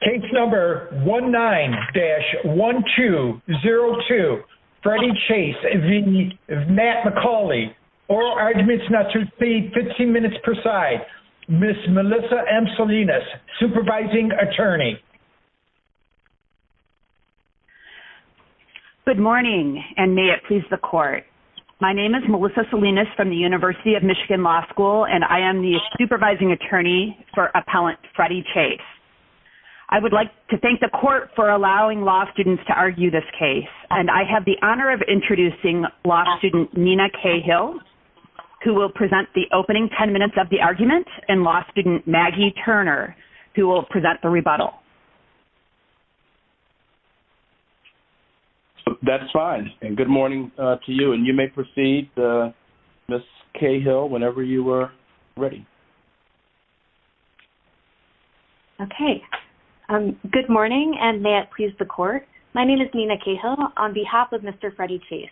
case number 19-1202. Freddie Chase v. Matt MaCauley. Oral arguments not to exceed 15 minutes per side. Ms. Melissa M. Salinas, supervising attorney. Good morning and may it please the court. My name is Melissa Salinas from the University of Michigan Law School and I am the supervising attorney for appellant Freddie Chase. I would like to thank the court for allowing law students to argue this case. And I have the honor of introducing law student Nina Cahill who will present the opening 10 minutes of the argument and law student Maggie Turner who will present the rebuttal. That's fine and good morning to you and you may proceed Ms. Cahill whenever you are ready. Okay. Good morning and may it please the court. My name is Nina Cahill on behalf of Mr. Freddie Chase.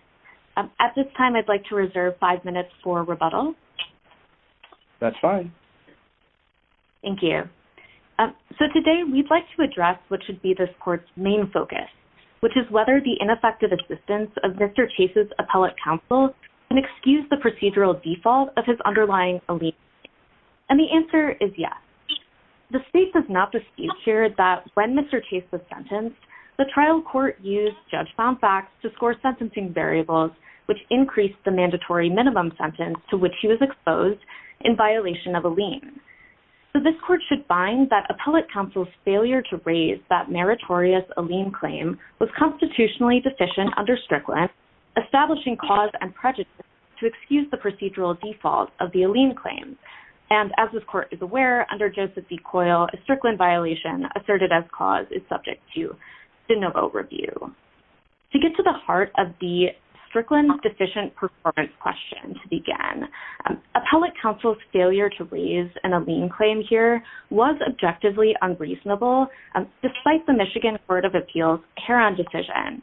At this time I'd like to reserve five minutes for rebuttal. That's fine. Thank you. So today we'd like to address what should be this court's main focus, which is whether the ineffective assistance of Mr. Chase's appellate counsel can excuse the procedural default of his underlying allegiance. And the answer is yes. The state does not dispute here that when Mr. Chase was sentenced, the trial court used judge found facts to score sentencing variables which increased the mandatory minimum sentence to which he was exposed in violation of a lien. So this court should find that appellate counsel's failure to raise that meritorious a lien claim was constitutionally deficient under Strickland, establishing cause and prejudice to excuse the procedural default of the lien claim. And as this court is aware, under Joseph B. Coyle, a Strickland violation asserted as cause is subject to the no vote review. To get to the heart of the Strickland deficient performance question to begin, appellate counsel's failure to raise an a lien claim here was objectively unreasonable, despite the Michigan Court of Appeals' care and decision,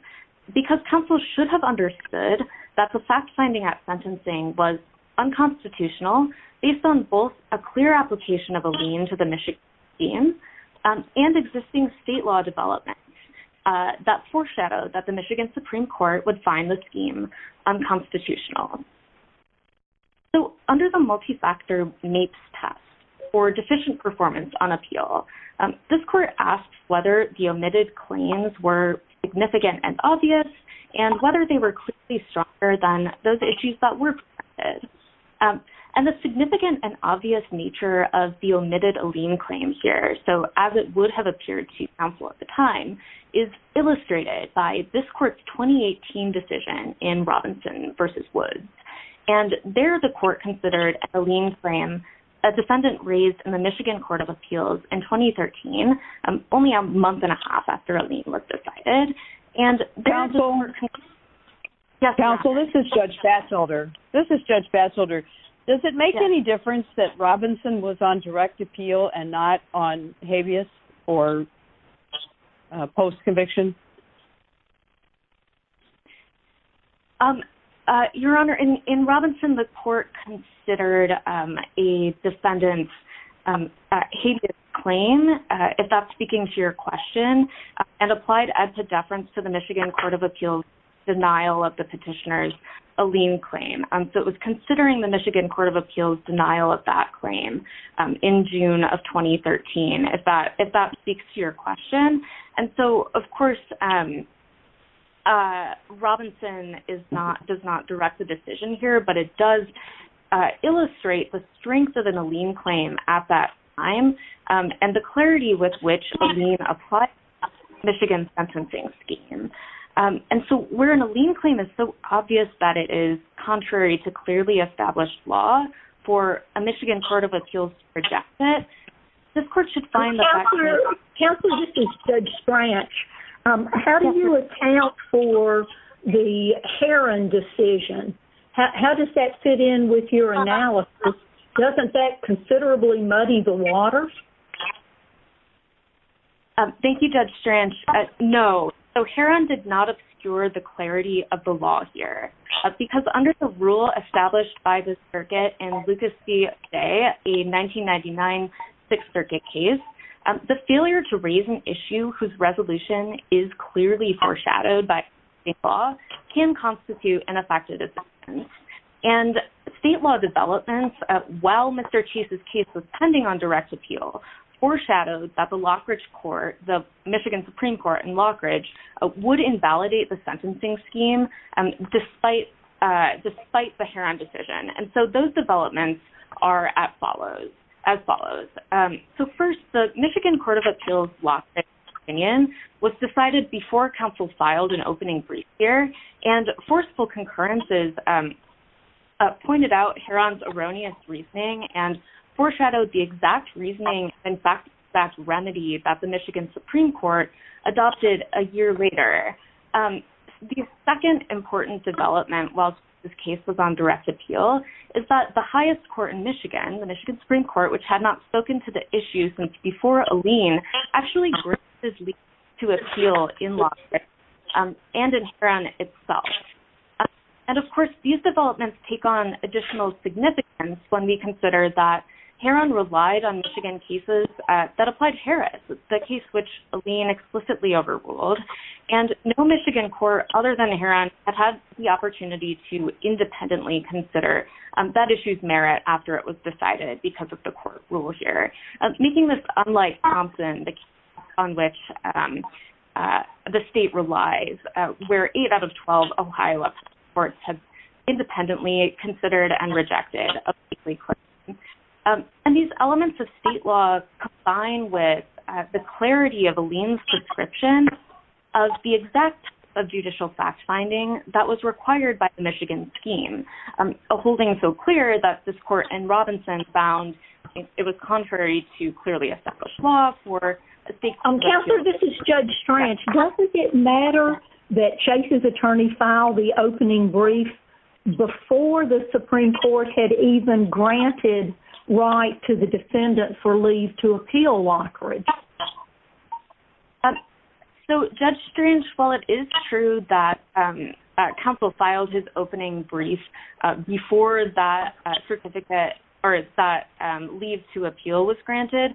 because counsel should have understood that the fact finding at sentencing was unconstitutional based on both a clear application of a lien to the Michigan scheme and existing state law development that foreshadowed that the Michigan Supreme Court would find the scheme unconstitutional. So under the multifactor MAPES test for deficient performance on appeal, this court asked whether the omitted claims were significant and obvious and whether they were clearly stronger than those issues that were presented. And the significant and obvious nature of the omitted a lien claim here, so as it would have appeared to counsel at the time, is illustrated by this court's 2018 decision in Robinson v. Woods. And there the court considered a lien claim, a defendant raised in the Michigan Court of Appeals in 2013, only a month and a half after a lien was decided. Counsel, this is Judge Batzelder. This is Judge Batzelder. Does it make any difference that Robinson was on direct appeal and not on habeas or post conviction? Your Honor, in Robinson, the court considered a defendant's habeas claim, if that's speaking to your question, and applied a deference to the Michigan Court of Appeals denial of the petitioner's a lien claim. So it was considering the Michigan Court of Appeals denial of that claim in June of 2013, if that speaks to your question. And so, of course, Robinson does not direct the decision here, but it does illustrate the strength of a lien claim at that time, and the clarity with which a lien applies to the Michigan sentencing scheme. And so where a lien claim is so obvious that it is contrary to clearly established law, for a Michigan Court of Appeals to reject it, Counsel, this is Judge Strach. How do you account for the Heron decision? How does that fit in with your analysis? Doesn't that considerably muddy the water? Thank you, Judge Strach. No. So Heron did not obscure the clarity of the law here, because under the rule established by the circuit in Lucas C. Day, a 1999 Sixth Circuit case, the failure to raise an issue whose resolution is clearly foreshadowed by state law, can constitute an effective defense. And state law developments, while Mr. Chase's case was pending on direct appeal, foreshadowed that the Lockridge Court, the Michigan Supreme Court in Lockridge, would invalidate the sentencing scheme, despite the Heron decision. And so those developments are as follows. So first, the Michigan Court of Appeals' last opinion was decided before Counsel filed an opening brief here, and forceful concurrences pointed out Heron's erroneous reasoning and foreshadowed the exact reasoning, in fact, that the Michigan Supreme Court adopted a year later. The second important development, while Chase's case was on direct appeal, is that the highest court in Michigan, the Michigan Supreme Court, which had not spoken to the issue since before Alene, actually graces Lee to appeal in Lockridge and in Heron itself. And, of course, these developments take on additional significance when we consider that Heron relied on Michigan cases that applied Harris, the case which Alene explicitly overruled. And no Michigan court other than Heron had had the opportunity to independently consider that issue's merit after it was decided because of the court rule here, making this unlike Thompson, the case on which the state relies, where eight out of 12 Ohio courts have independently considered and rejected a plea claim. And these elements of state law combine with the clarity of Alene's description of the exact judicial fact-finding that was required by the Michigan scheme, holding so clear that this court in Robinson found it was contrary to clearly established law for state courts. Counselor, this is Judge Strange. Does it matter that Chase's attorney filed the opening brief before the Supreme Court had even granted right to the defendant for leave to appeal Lockridge? So, Judge Strange, while it is true that counsel filed his opening brief before that certificate or that leave to appeal was granted,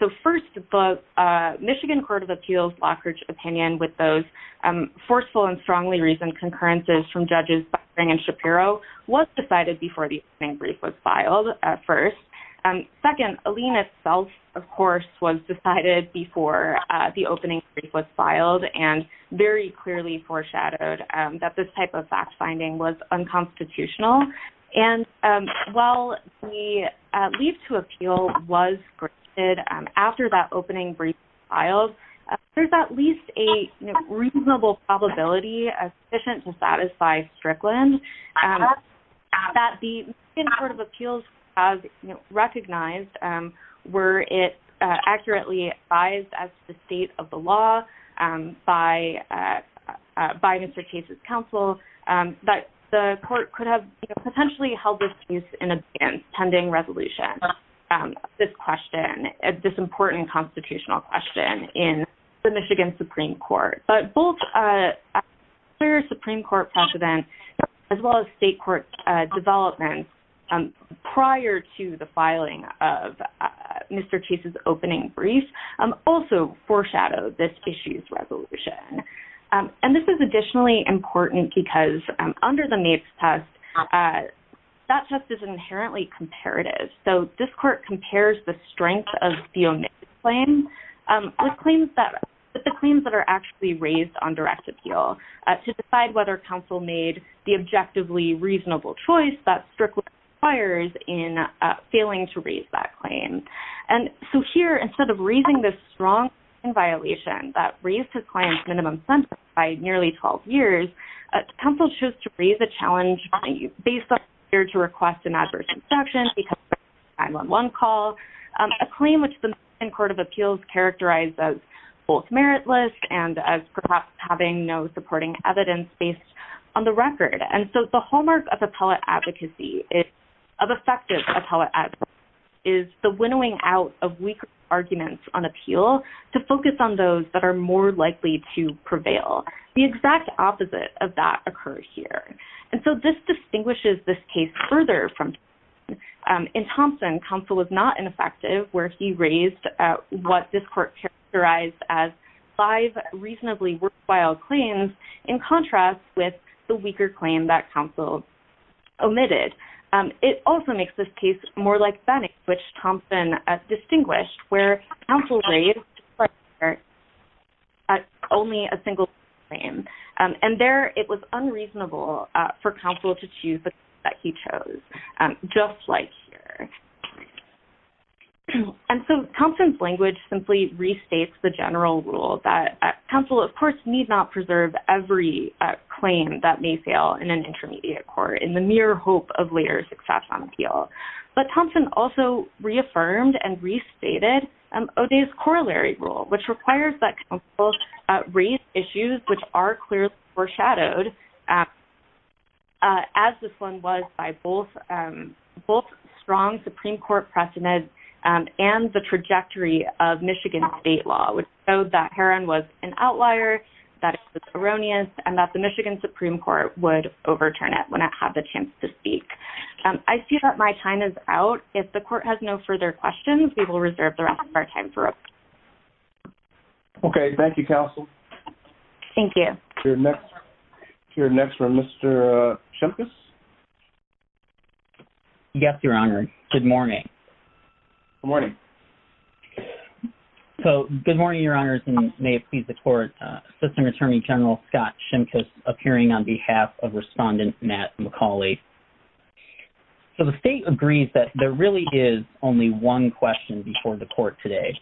so first the Michigan Court of Appeals Lockridge opinion with those forceful and strongly reasoned concurrences from Judges Buckering and Shapiro was decided before the opening brief was filed at first. Second, Alene itself, of course, was decided before the opening brief was filed and very clearly foreshadowed that this type of fact-finding was unconstitutional. And while the leave to appeal was granted after that opening brief was filed, there's at least a reasonable probability sufficient to satisfy Strickland that the Michigan Court of Appeals has recognized where it accurately advised as to the state of the law by Mr. Chase's counsel that the court could have potentially held this case in advance pending resolution of this question, this important constitutional question in the Michigan Supreme Court. But both a clear Supreme Court precedent as well as state court development prior to the filing of Mr. Chase's opening brief also foreshadowed this issue's resolution. And this is additionally important because under the NAPES test, that test is inherently comparative. So this court compares the strength of the NAPES plan with the claims that are actually raised on direct appeal to decide whether counsel made the objectively reasonable choice that Strickland requires in failing to raise that claim. And so here, instead of raising this strong claim violation that raised his client's minimum sentence by nearly 12 years, counsel chose to raise a challenge based on the failure to request an adverse instruction because of a 9-1-1 call, a claim which the Michigan Court of Appeals characterized as both meritless and as perhaps having no supporting evidence based on the record. And so the hallmark of appellate advocacy, of effective appellate advocacy, is the winnowing out of weak arguments on appeal to focus on those that are more likely to prevail. The exact opposite of that occurs here. And so this distinguishes this case further from Thompson. In Thompson, counsel was not ineffective where he raised what this court characterized as five reasonably worthwhile claims in contrast with the weaker claim that counsel omitted. It also makes this case more like Banning, which Thompson distinguished, where counsel raised only a single claim. And there, it was unreasonable for counsel to choose the claim that he chose, just like here. And so Thompson's language simply restates the general rule that counsel, of course, need not preserve every claim that may fail in an intermediate court in the mere hope of later success on appeal. But Thompson also reaffirmed and restated O'Day's corollary rule, which requires that counsel raise issues which are clearly foreshadowed, as this one was by both strong Supreme Court precedent and the trajectory of Michigan state law, which showed that Heron was an outlier, that it was erroneous, and that the Michigan Supreme Court would overturn it when it had the chance to speak. I see that my time is out. If the court has no further questions, we will reserve the rest of our time for it. Okay. Thank you, counsel. Thank you. We're next for Mr. Shimkus. Yes, Your Honor. Good morning. Good morning. So good morning, Your Honors, and may it please the court. Assistant Attorney General Scott Shimkus appearing on behalf of Respondent Matt McCauley. So the state agrees that there really is only one question before the court today,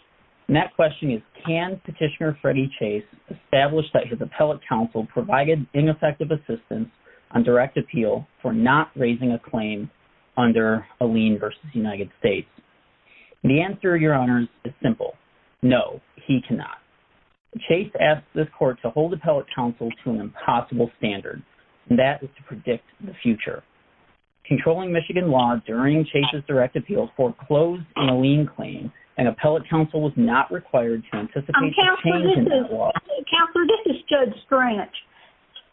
and that question is, can Petitioner Freddie Chase establish that his appellate counsel provided ineffective assistance on direct appeal for not raising a claim under a lien versus United States? The answer, Your Honors, is simple. No, he cannot. Chase asked this court to hold appellate counsel to an impossible standard, and that is to predict the future. Controlling Michigan law during Chase's direct appeal foreclosed a lien claim, and appellate counsel was not required to anticipate the change in that law. Counselor, this is Judge Strach.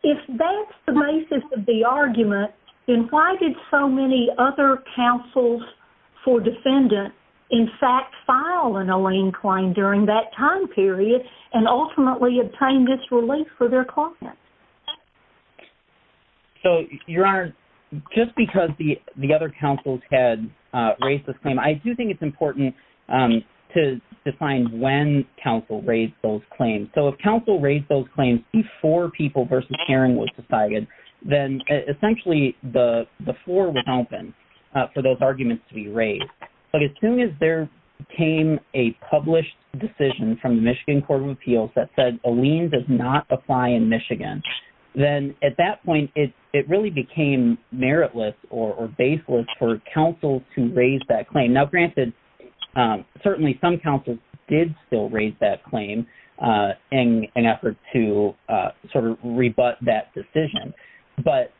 If that's the basis of the argument, then why did so many other counsels for defendant, in fact, file a lien claim during that time period and ultimately obtain this relief for their clients? So, Your Honors, just because the other counsels had raised this claim, I do think it's important to define when counsel raised those claims. So if counsel raised those claims before people versus hearing was decided, then essentially the floor was open for those arguments to be raised. But as soon as there came a published decision from the Michigan Court of Appeals that said a lien does not apply in Michigan, then at that point it really became meritless or baseless for counsel to raise that claim. Now, granted, certainly some counsels did still raise that claim in an effort to sort of rebut that decision. But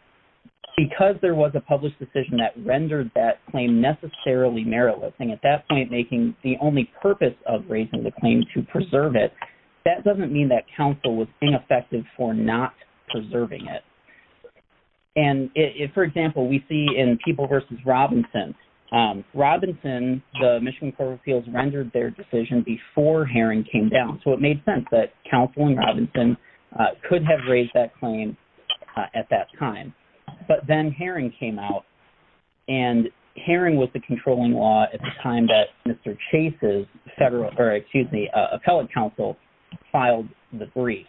because there was a published decision that rendered that claim necessarily meritless, and at that point making the only purpose of raising the claim to preserve it, that doesn't mean that counsel was ineffective for not preserving it. And for example, we see in people versus Robinson, Robinson, the Michigan Court of Appeals, rendered their decision before hearing came down. So it made sense that counsel in Robinson could have raised that claim at that time. But then hearing came out, and hearing was the controlling law at the time that Mr. Chase's federal, or excuse me, appellate counsel filed the brief.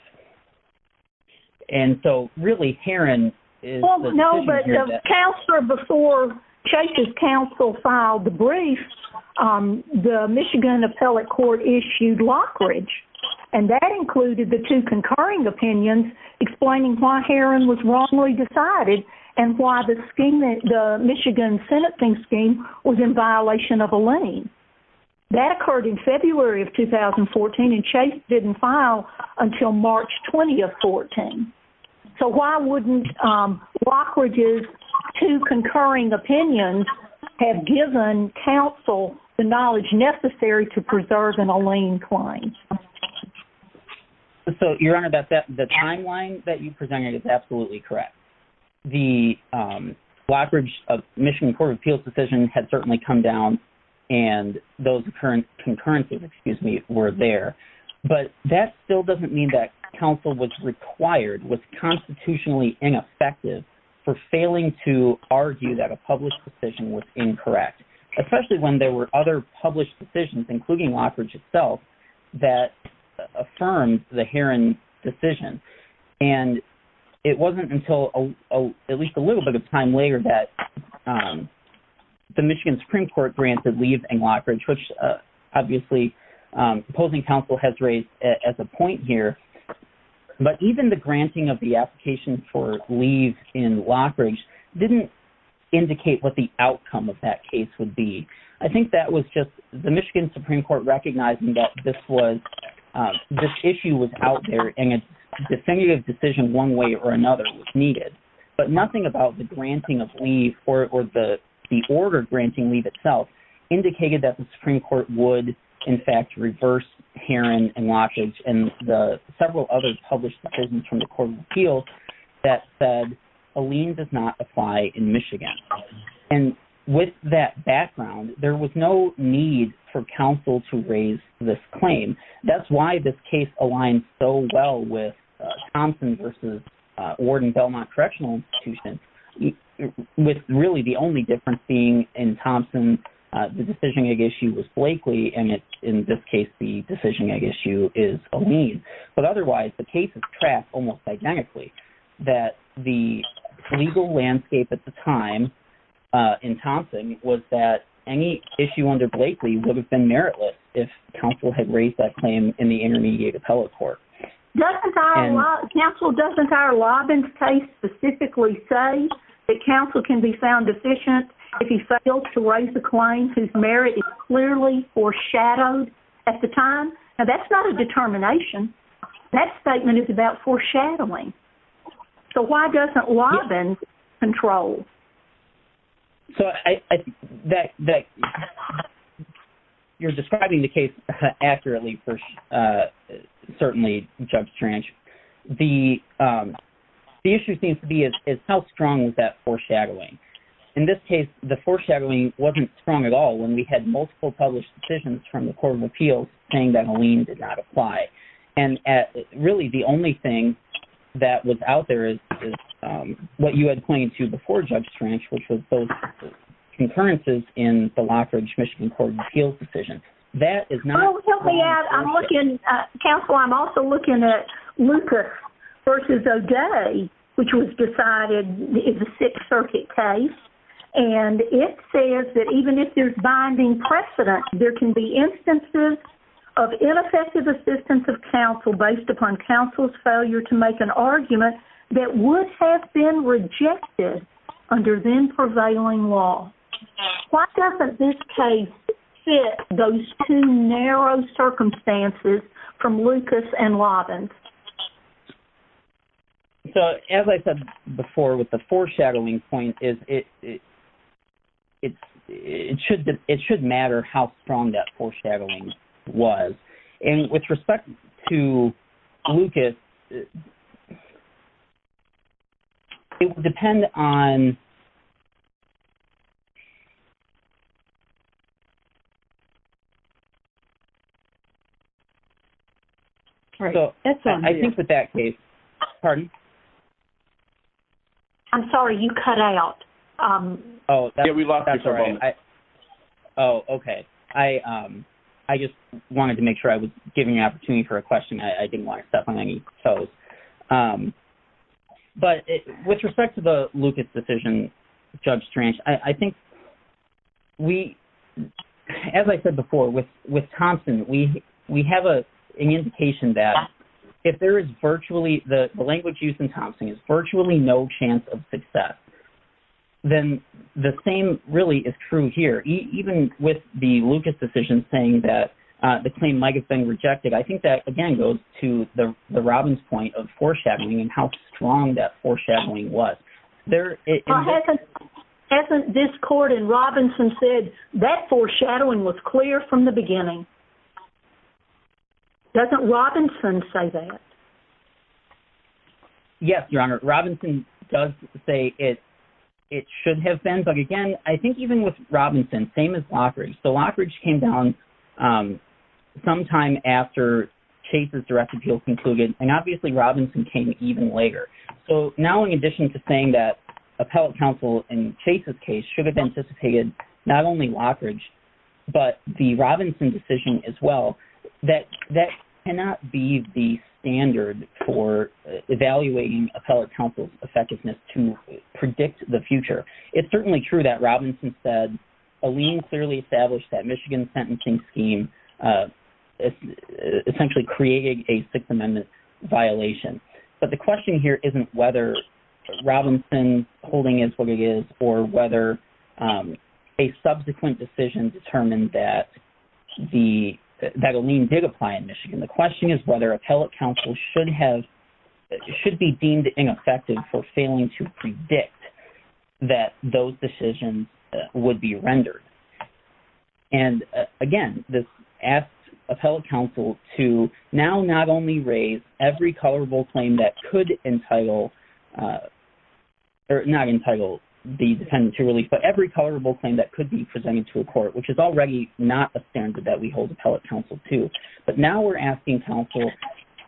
And so really hearing is the decision here that- And that included the two concurring opinions explaining why Heron was wrongly decided and why the Michigan sentencing scheme was in violation of a lien. That occurred in February of 2014, and Chase didn't file until March 20 of 14. So why wouldn't Lockridge's two concurring opinions have given counsel the knowledge necessary to preserve an lien claim? So, Your Honor, the timeline that you presented is absolutely correct. The Lockridge-Michigan Court of Appeals decision had certainly come down, and those concurrences, excuse me, were there. But that still doesn't mean that counsel was required, was constitutionally ineffective, for failing to argue that a published decision was incorrect, especially when there were other published decisions, including Lockridge itself, that affirmed the Heron decision. And it wasn't until at least a little bit of time later that the Michigan Supreme Court granted leave in Lockridge, which obviously opposing counsel has raised as a point here. But even the granting of the application for leave in Lockridge didn't indicate what the outcome of that case would be. I think that was just the Michigan Supreme Court recognizing that this issue was out there and a definitive decision one way or another was needed. But nothing about the granting of leave or the order granting leave itself indicated that the Supreme Court would, in fact, reverse Heron and Lockridge and the several other published decisions from the Court of Appeals that said a lien does not apply in Michigan. And with that background, there was no need for counsel to raise this claim. That's why this case aligns so well with Thompson v. Ordon-Belmont Correctional Institution, with really the only difference being in Thompson the decision issue was Blakely, and in this case the decision issue is a lien. But otherwise, the case is trapped almost identically, that the legal landscape at the time in Thompson was that any issue under Blakely would have been meritless if counsel had raised that claim in the intermediate appellate court. Counsel, doesn't our Lobbins case specifically say that counsel can be found deficient if he fails to raise the claim whose merit is clearly foreshadowed at the time? Now, that's not a determination. That statement is about foreshadowing. So why doesn't Lobbins control? So you're describing the case accurately for certainly Judge Trench. The issue seems to be is how strong is that foreshadowing? In this case, the foreshadowing wasn't strong at all when we had multiple published decisions from the Court of Appeals saying that a lien did not apply. Really, the only thing that was out there is what you had pointed to before, Judge Trench, which was those concurrences in the Lockridge, Michigan Court of Appeals decision. That is not... Help me out. Counsel, I'm also looking at Lucas v. O'Day, which was decided in the Sixth Circuit case. And it says that even if there's binding precedent, there can be instances of ineffective assistance of counsel based upon counsel's failure to make an argument that would have been rejected under then-prevailing law. Why doesn't this case fit those two narrow circumstances from Lucas and Lobbins? So as I said before with the foreshadowing point, it should matter how strong that foreshadowing was. And with respect to Lucas, it would depend on... I think with that case... Pardon? I'm sorry, you cut out. Oh, that's all right. Oh, okay. I just wanted to make sure I was giving an opportunity for a question. I didn't want to step on any toes. But with respect to the Lucas decision, Judge Strange, I think we... As I said before, with Thompson, we have an indication that if there is virtually... The language used in Thompson is virtually no chance of success. Then the same really is true here. Even with the Lucas decision saying that the claim might have been rejected, I think that, again, goes to the Robbins point of foreshadowing and how strong that foreshadowing was. Hasn't this court in Robinson said that foreshadowing was clear from the beginning? Doesn't Robinson say that? Yes, Your Honor. Robinson does say it should have been. But again, I think even with Robinson, same as Lockridge. So Lockridge came down sometime after Chase's direct appeal concluded, and obviously Robinson came even later. So now in addition to saying that appellate counsel in Chase's case should have anticipated not only Lockridge but the Robinson decision as well, that cannot be the standard for evaluating appellate counsel's effectiveness to predict the future. It's certainly true that Robinson said Alene clearly established that Michigan sentencing scheme essentially created a Sixth Amendment violation. But the question here isn't whether Robinson's holding is what it is or whether a subsequent decision determined that Alene did apply in Michigan. The question is whether appellate counsel should be deemed ineffective for failing to predict that those decisions would be rendered. And again, this asks appellate counsel to now not only raise every colorable claim that could entitle the defendant to release, but every colorable claim that could be presented to a court, which is already not a standard that we hold appellate counsel to. But now we're asking counsel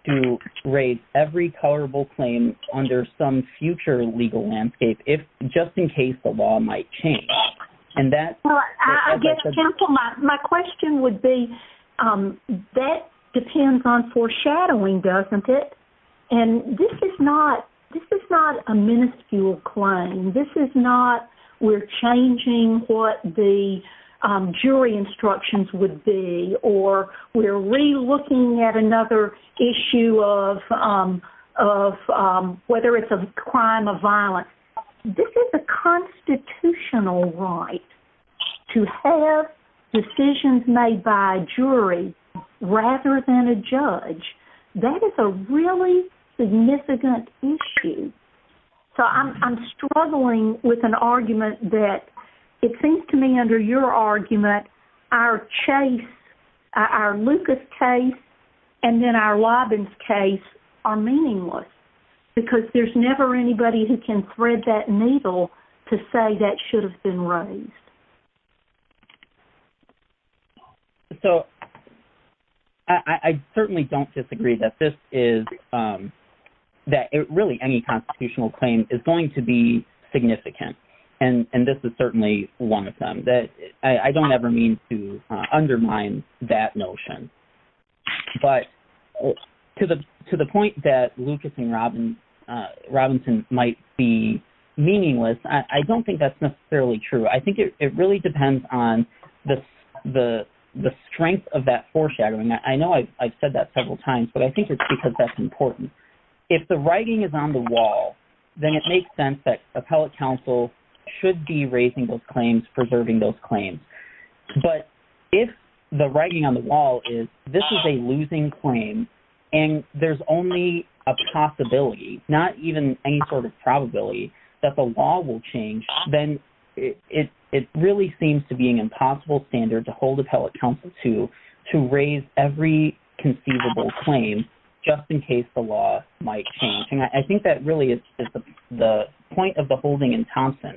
to raise every colorable claim under some future legal landscape, just in case the law might change. Well, I guess, counsel, my question would be that depends on foreshadowing, doesn't it? And this is not a minuscule claim. This is not we're changing what the jury instructions would be or we're relooking at another issue of whether it's a crime of violence. This is a constitutional right to have decisions made by a jury rather than a judge. That is a really significant issue. So I'm struggling with an argument that it seems to me under your argument, our Chase, our Lucas case, and then our Robbins case are meaningless. Because there's never anybody who can thread that needle to say that should have been raised. So I certainly don't disagree that this is that really any constitutional claim is going to be significant. And this is certainly one of them that I don't ever mean to undermine that notion. But to the to the point that Lucas and Robinson might be meaningless, I don't think that's necessarily true. I think it really depends on the strength of that foreshadowing. I know I've said that several times, but I think it's because that's important. If the writing is on the wall, then it makes sense that appellate counsel should be raising those claims, preserving those claims. But if the writing on the wall is this is a losing claim and there's only a possibility, not even any sort of probability that the law will change, then it really seems to be an impossible standard to hold appellate counsel to to raise every conceivable claim just in case the law might change. I think that really is the point of the holding in Thompson,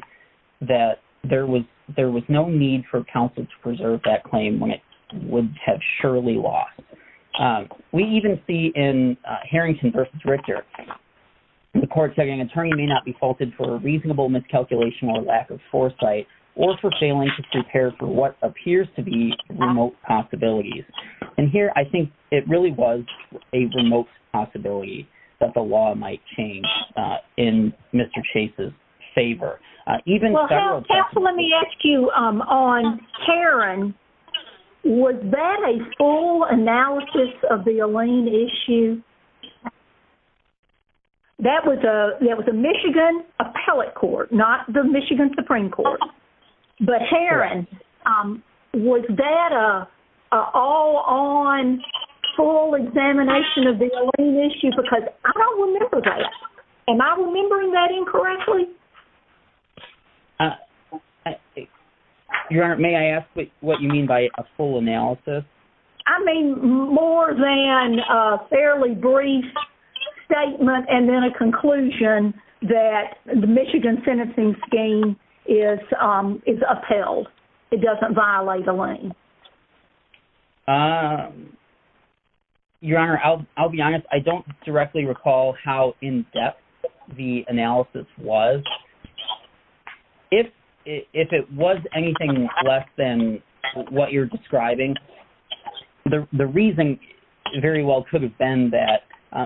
that there was there was no need for counsel to preserve that claim when it would have surely lost. We even see in Harrington v. Richter, the court saying an attorney may not be faulted for a reasonable miscalculation or lack of foresight or for failing to prepare for what appears to be remote possibilities. And here I think it really was a remote possibility that the law might change in Mr. Chase's favor. Let me ask you on Heron, was that a full analysis of the Elaine issue? That was a Michigan appellate court, not the Michigan Supreme Court. But Heron, was that a all on full examination of the Elaine issue? Because I don't remember that. Am I remembering that incorrectly? Your Honor, may I ask what you mean by a full analysis? I mean more than a fairly brief statement and then a conclusion that the Michigan sentencing scheme is upheld. It doesn't violate Elaine. Your Honor, I'll be honest, I don't directly recall how in depth the analysis was. If it was anything less than what you're describing, the reason very well could have been that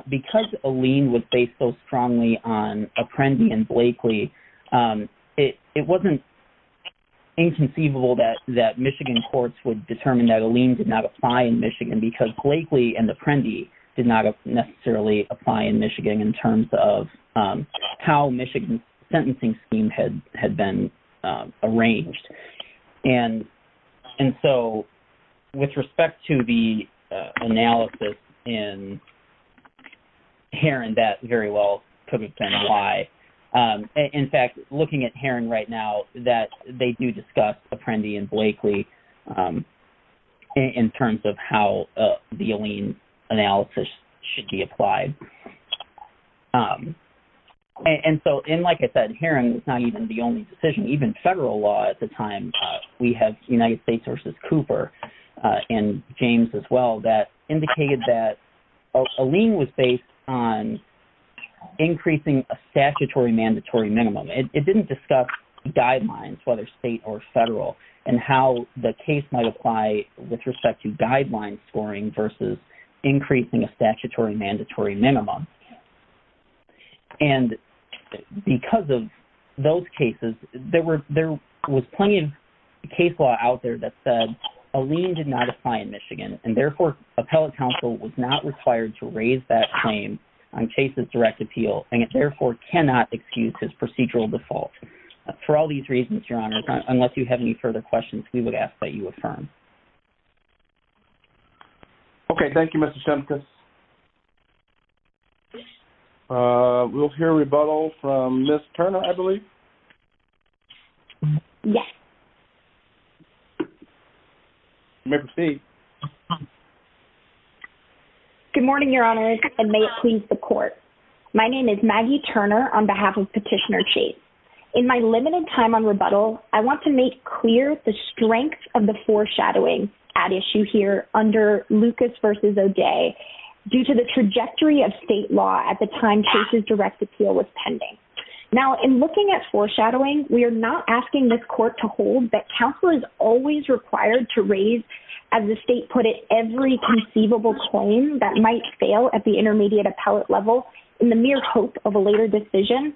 because Elaine was based so strongly on Apprendi and Blakely, it wasn't inconceivable that Michigan courts would determine that Elaine did not apply in Michigan because Blakely and Apprendi did not necessarily apply in Michigan in terms of how Michigan's sentencing scheme had been arranged. And so with respect to the analysis in Heron, that very well could have been why. In fact, looking at Heron right now, that they do discuss Apprendi and Blakely in terms of how the Elaine analysis should be applied. And so like I said, Heron is not even the only decision. Even federal law at the time, we have United States versus Cooper and James as well, that indicated that Elaine was based on increasing a statutory mandatory minimum. It didn't discuss guidelines, whether state or federal, and how the case might apply with respect to guideline scoring versus increasing a statutory mandatory minimum. And because of those cases, there was plenty of case law out there that said Elaine did not apply in Michigan, and therefore appellate counsel was not required to raise that claim on cases direct appeal, and it therefore cannot excuse his procedural default. For all these reasons, Your Honors, unless you have any further questions, we would ask that you affirm. Okay, thank you, Mr. Simkus. We'll hear rebuttal from Ms. Turner, I believe. Yes. You may proceed. Good morning, Your Honors, and may it please the Court. My name is Maggie Turner on behalf of Petitioner Chase. In my limited time on rebuttal, I want to make clear the strength of the foreshadowing at issue here under Lucas versus O'Day. Due to the trajectory of state law at the time Chase's direct appeal was pending. Now, in looking at foreshadowing, we are not asking this Court to hold that counsel is always required to raise, as the state put it, every conceivable claim that might fail at the intermediate appellate level in the mere hope of a later decision.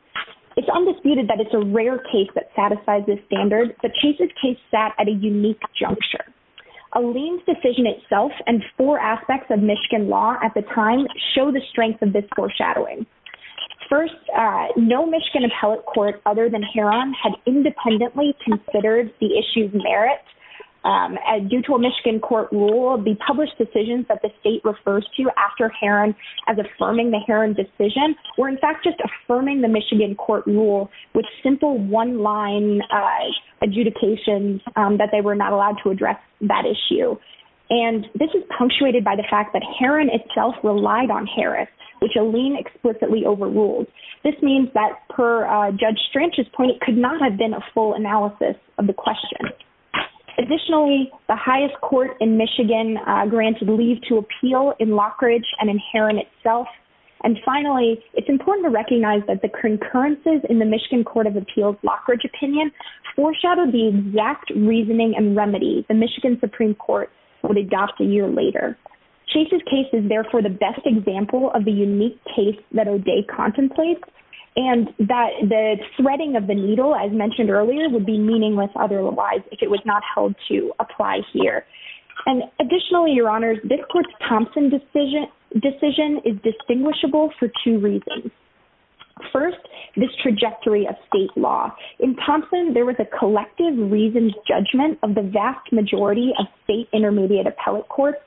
It's undisputed that it's a rare case that satisfies this standard, but Chase's case sat at a unique juncture. Alene's decision itself and four aspects of Michigan law at the time show the strength of this foreshadowing. First, no Michigan appellate court other than Heron had independently considered the issue's merit. Due to a Michigan court rule, the published decisions that the state refers to after Heron as affirming the Heron decision were in fact just affirming the Michigan court rule with simple one-line adjudications that they were not allowed to address that issue. And this is punctuated by the fact that Heron itself relied on Harris, which Alene explicitly overruled. This means that per Judge Stranch's point, it could not have been a full analysis of the question. Additionally, the highest court in Michigan granted leave to appeal in Lockridge and in Heron itself. And finally, it's important to recognize that the concurrences in the Michigan Court of Appeals Lockridge opinion foreshadowed the exact reasoning and remedy the Michigan Supreme Court would adopt a year later. Chase's case is therefore the best example of the unique case that O'Day contemplates, and that the threading of the needle, as mentioned earlier, would be meaningless otherwise if it was not held to apply here. And additionally, Your Honors, this court's Thompson decision is distinguishable for two reasons. First, this trajectory of state law. In Thompson, there was a collective reasoned judgment of the vast majority of state intermediate appellate courts,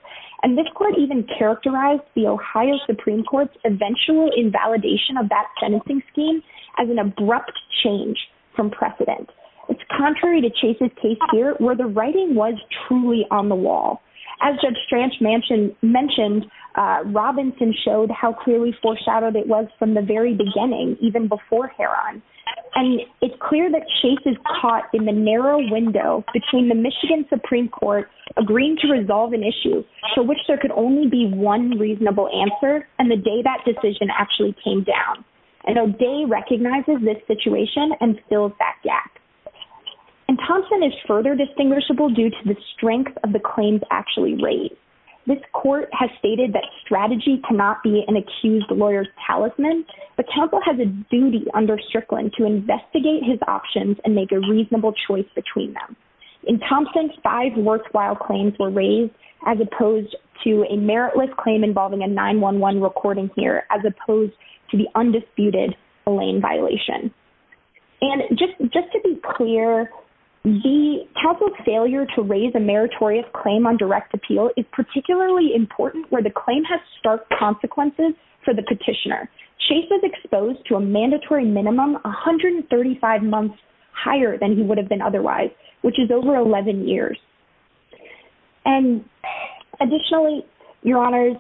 and this court even characterized the Ohio Supreme Court's eventual invalidation of that sentencing scheme as an abrupt change from precedent. It's contrary to Chase's case here, where the writing was truly on the wall. As Judge Stranch mentioned, Robinson showed how clearly foreshadowed it was from the very beginning, even before Heron. And it's clear that Chase is caught in the narrow window between the Michigan Supreme Court agreeing to resolve an issue for which there could only be one reasonable answer, and the day that decision actually came down. And O'Day recognizes this situation and fills that gap. And Thompson is further distinguishable due to the strength of the claims actually raised. This court has stated that strategy cannot be an accused lawyer's talisman, but counsel has a duty under Strickland to investigate his options and make a reasonable choice between them. In Thompson, five worthwhile claims were raised as opposed to a meritless claim involving a 911 recording here, as opposed to the undisputed Lane violation. And just to be clear, the counsel's failure to raise a meritorious claim on direct appeal is particularly important, where the claim has stark consequences for the petitioner. Chase was exposed to a mandatory minimum 135 months higher than he would have been otherwise, which is over 11 years. And additionally, Your Honors,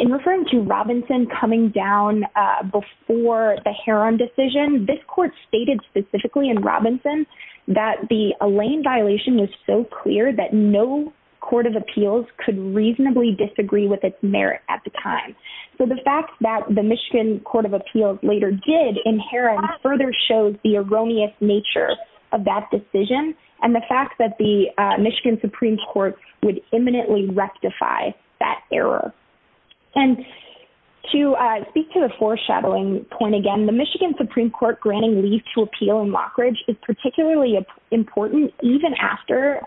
in referring to Robinson coming down before the Heron decision, this court stated specifically in Robinson that the Lane violation was so clear that no court of appeals could reasonably disagree with its merit at the time. So the fact that the Michigan Court of Appeals later did in Heron further shows the erroneous nature of that decision, and the fact that the Michigan Supreme Court would imminently rectify that error. And to speak to the foreshadowing point again, the Michigan Supreme Court granting leave to appeal in Lockridge is particularly important, even after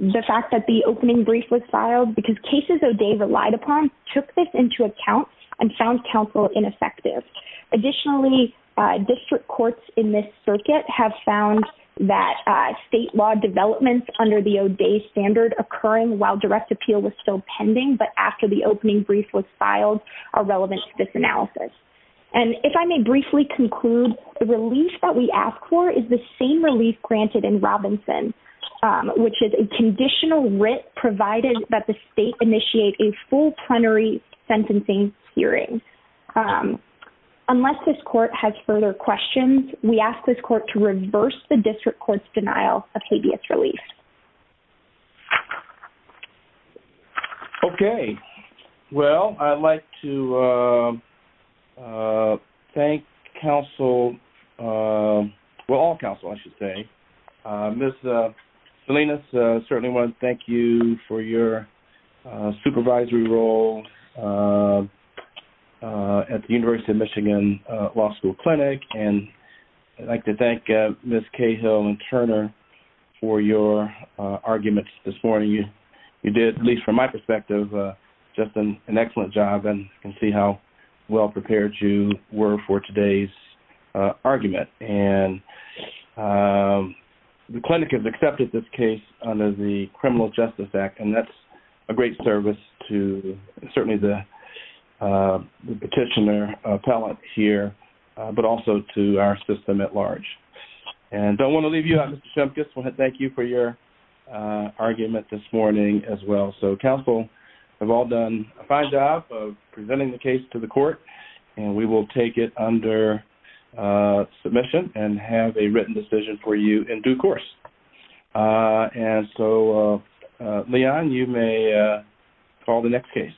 the fact that the opening brief was filed, because cases O'Day relied upon took this into account and found counsel ineffective. Additionally, district courts in this circuit have found that state law developments under the O'Day standard occurring while direct appeal was still pending, but after the opening brief was filed are relevant to this analysis. And if I may briefly conclude, the relief that we ask for is the same relief granted in Robinson, which is a conditional writ provided that the state initiate a full plenary sentencing hearing. Unless this court has further questions, we ask this court to reverse the district court's denial of habeas relief. Okay. Well, I'd like to thank counsel, well, all counsel, I should say. Ms. Salinas, I certainly want to thank you for your supervisory role at the University of Michigan Law School Clinic, and I'd like to thank Ms. Cahill and Turner for your arguments this morning. You did, at least from my perspective, just an excellent job, and I can see how well prepared you were for today's argument. And the clinic has accepted this case under the Criminal Justice Act, and that's a great service to certainly the petitioner appellate here, but also to our system at large. And I don't want to leave you out, Mr. Shumkus. I want to thank you for your argument this morning as well. So, counsel, you've all done a fine job of presenting the case to the court, and we will take it under submission and have a written decision for you in due course. And so, Leon, you may call the next case.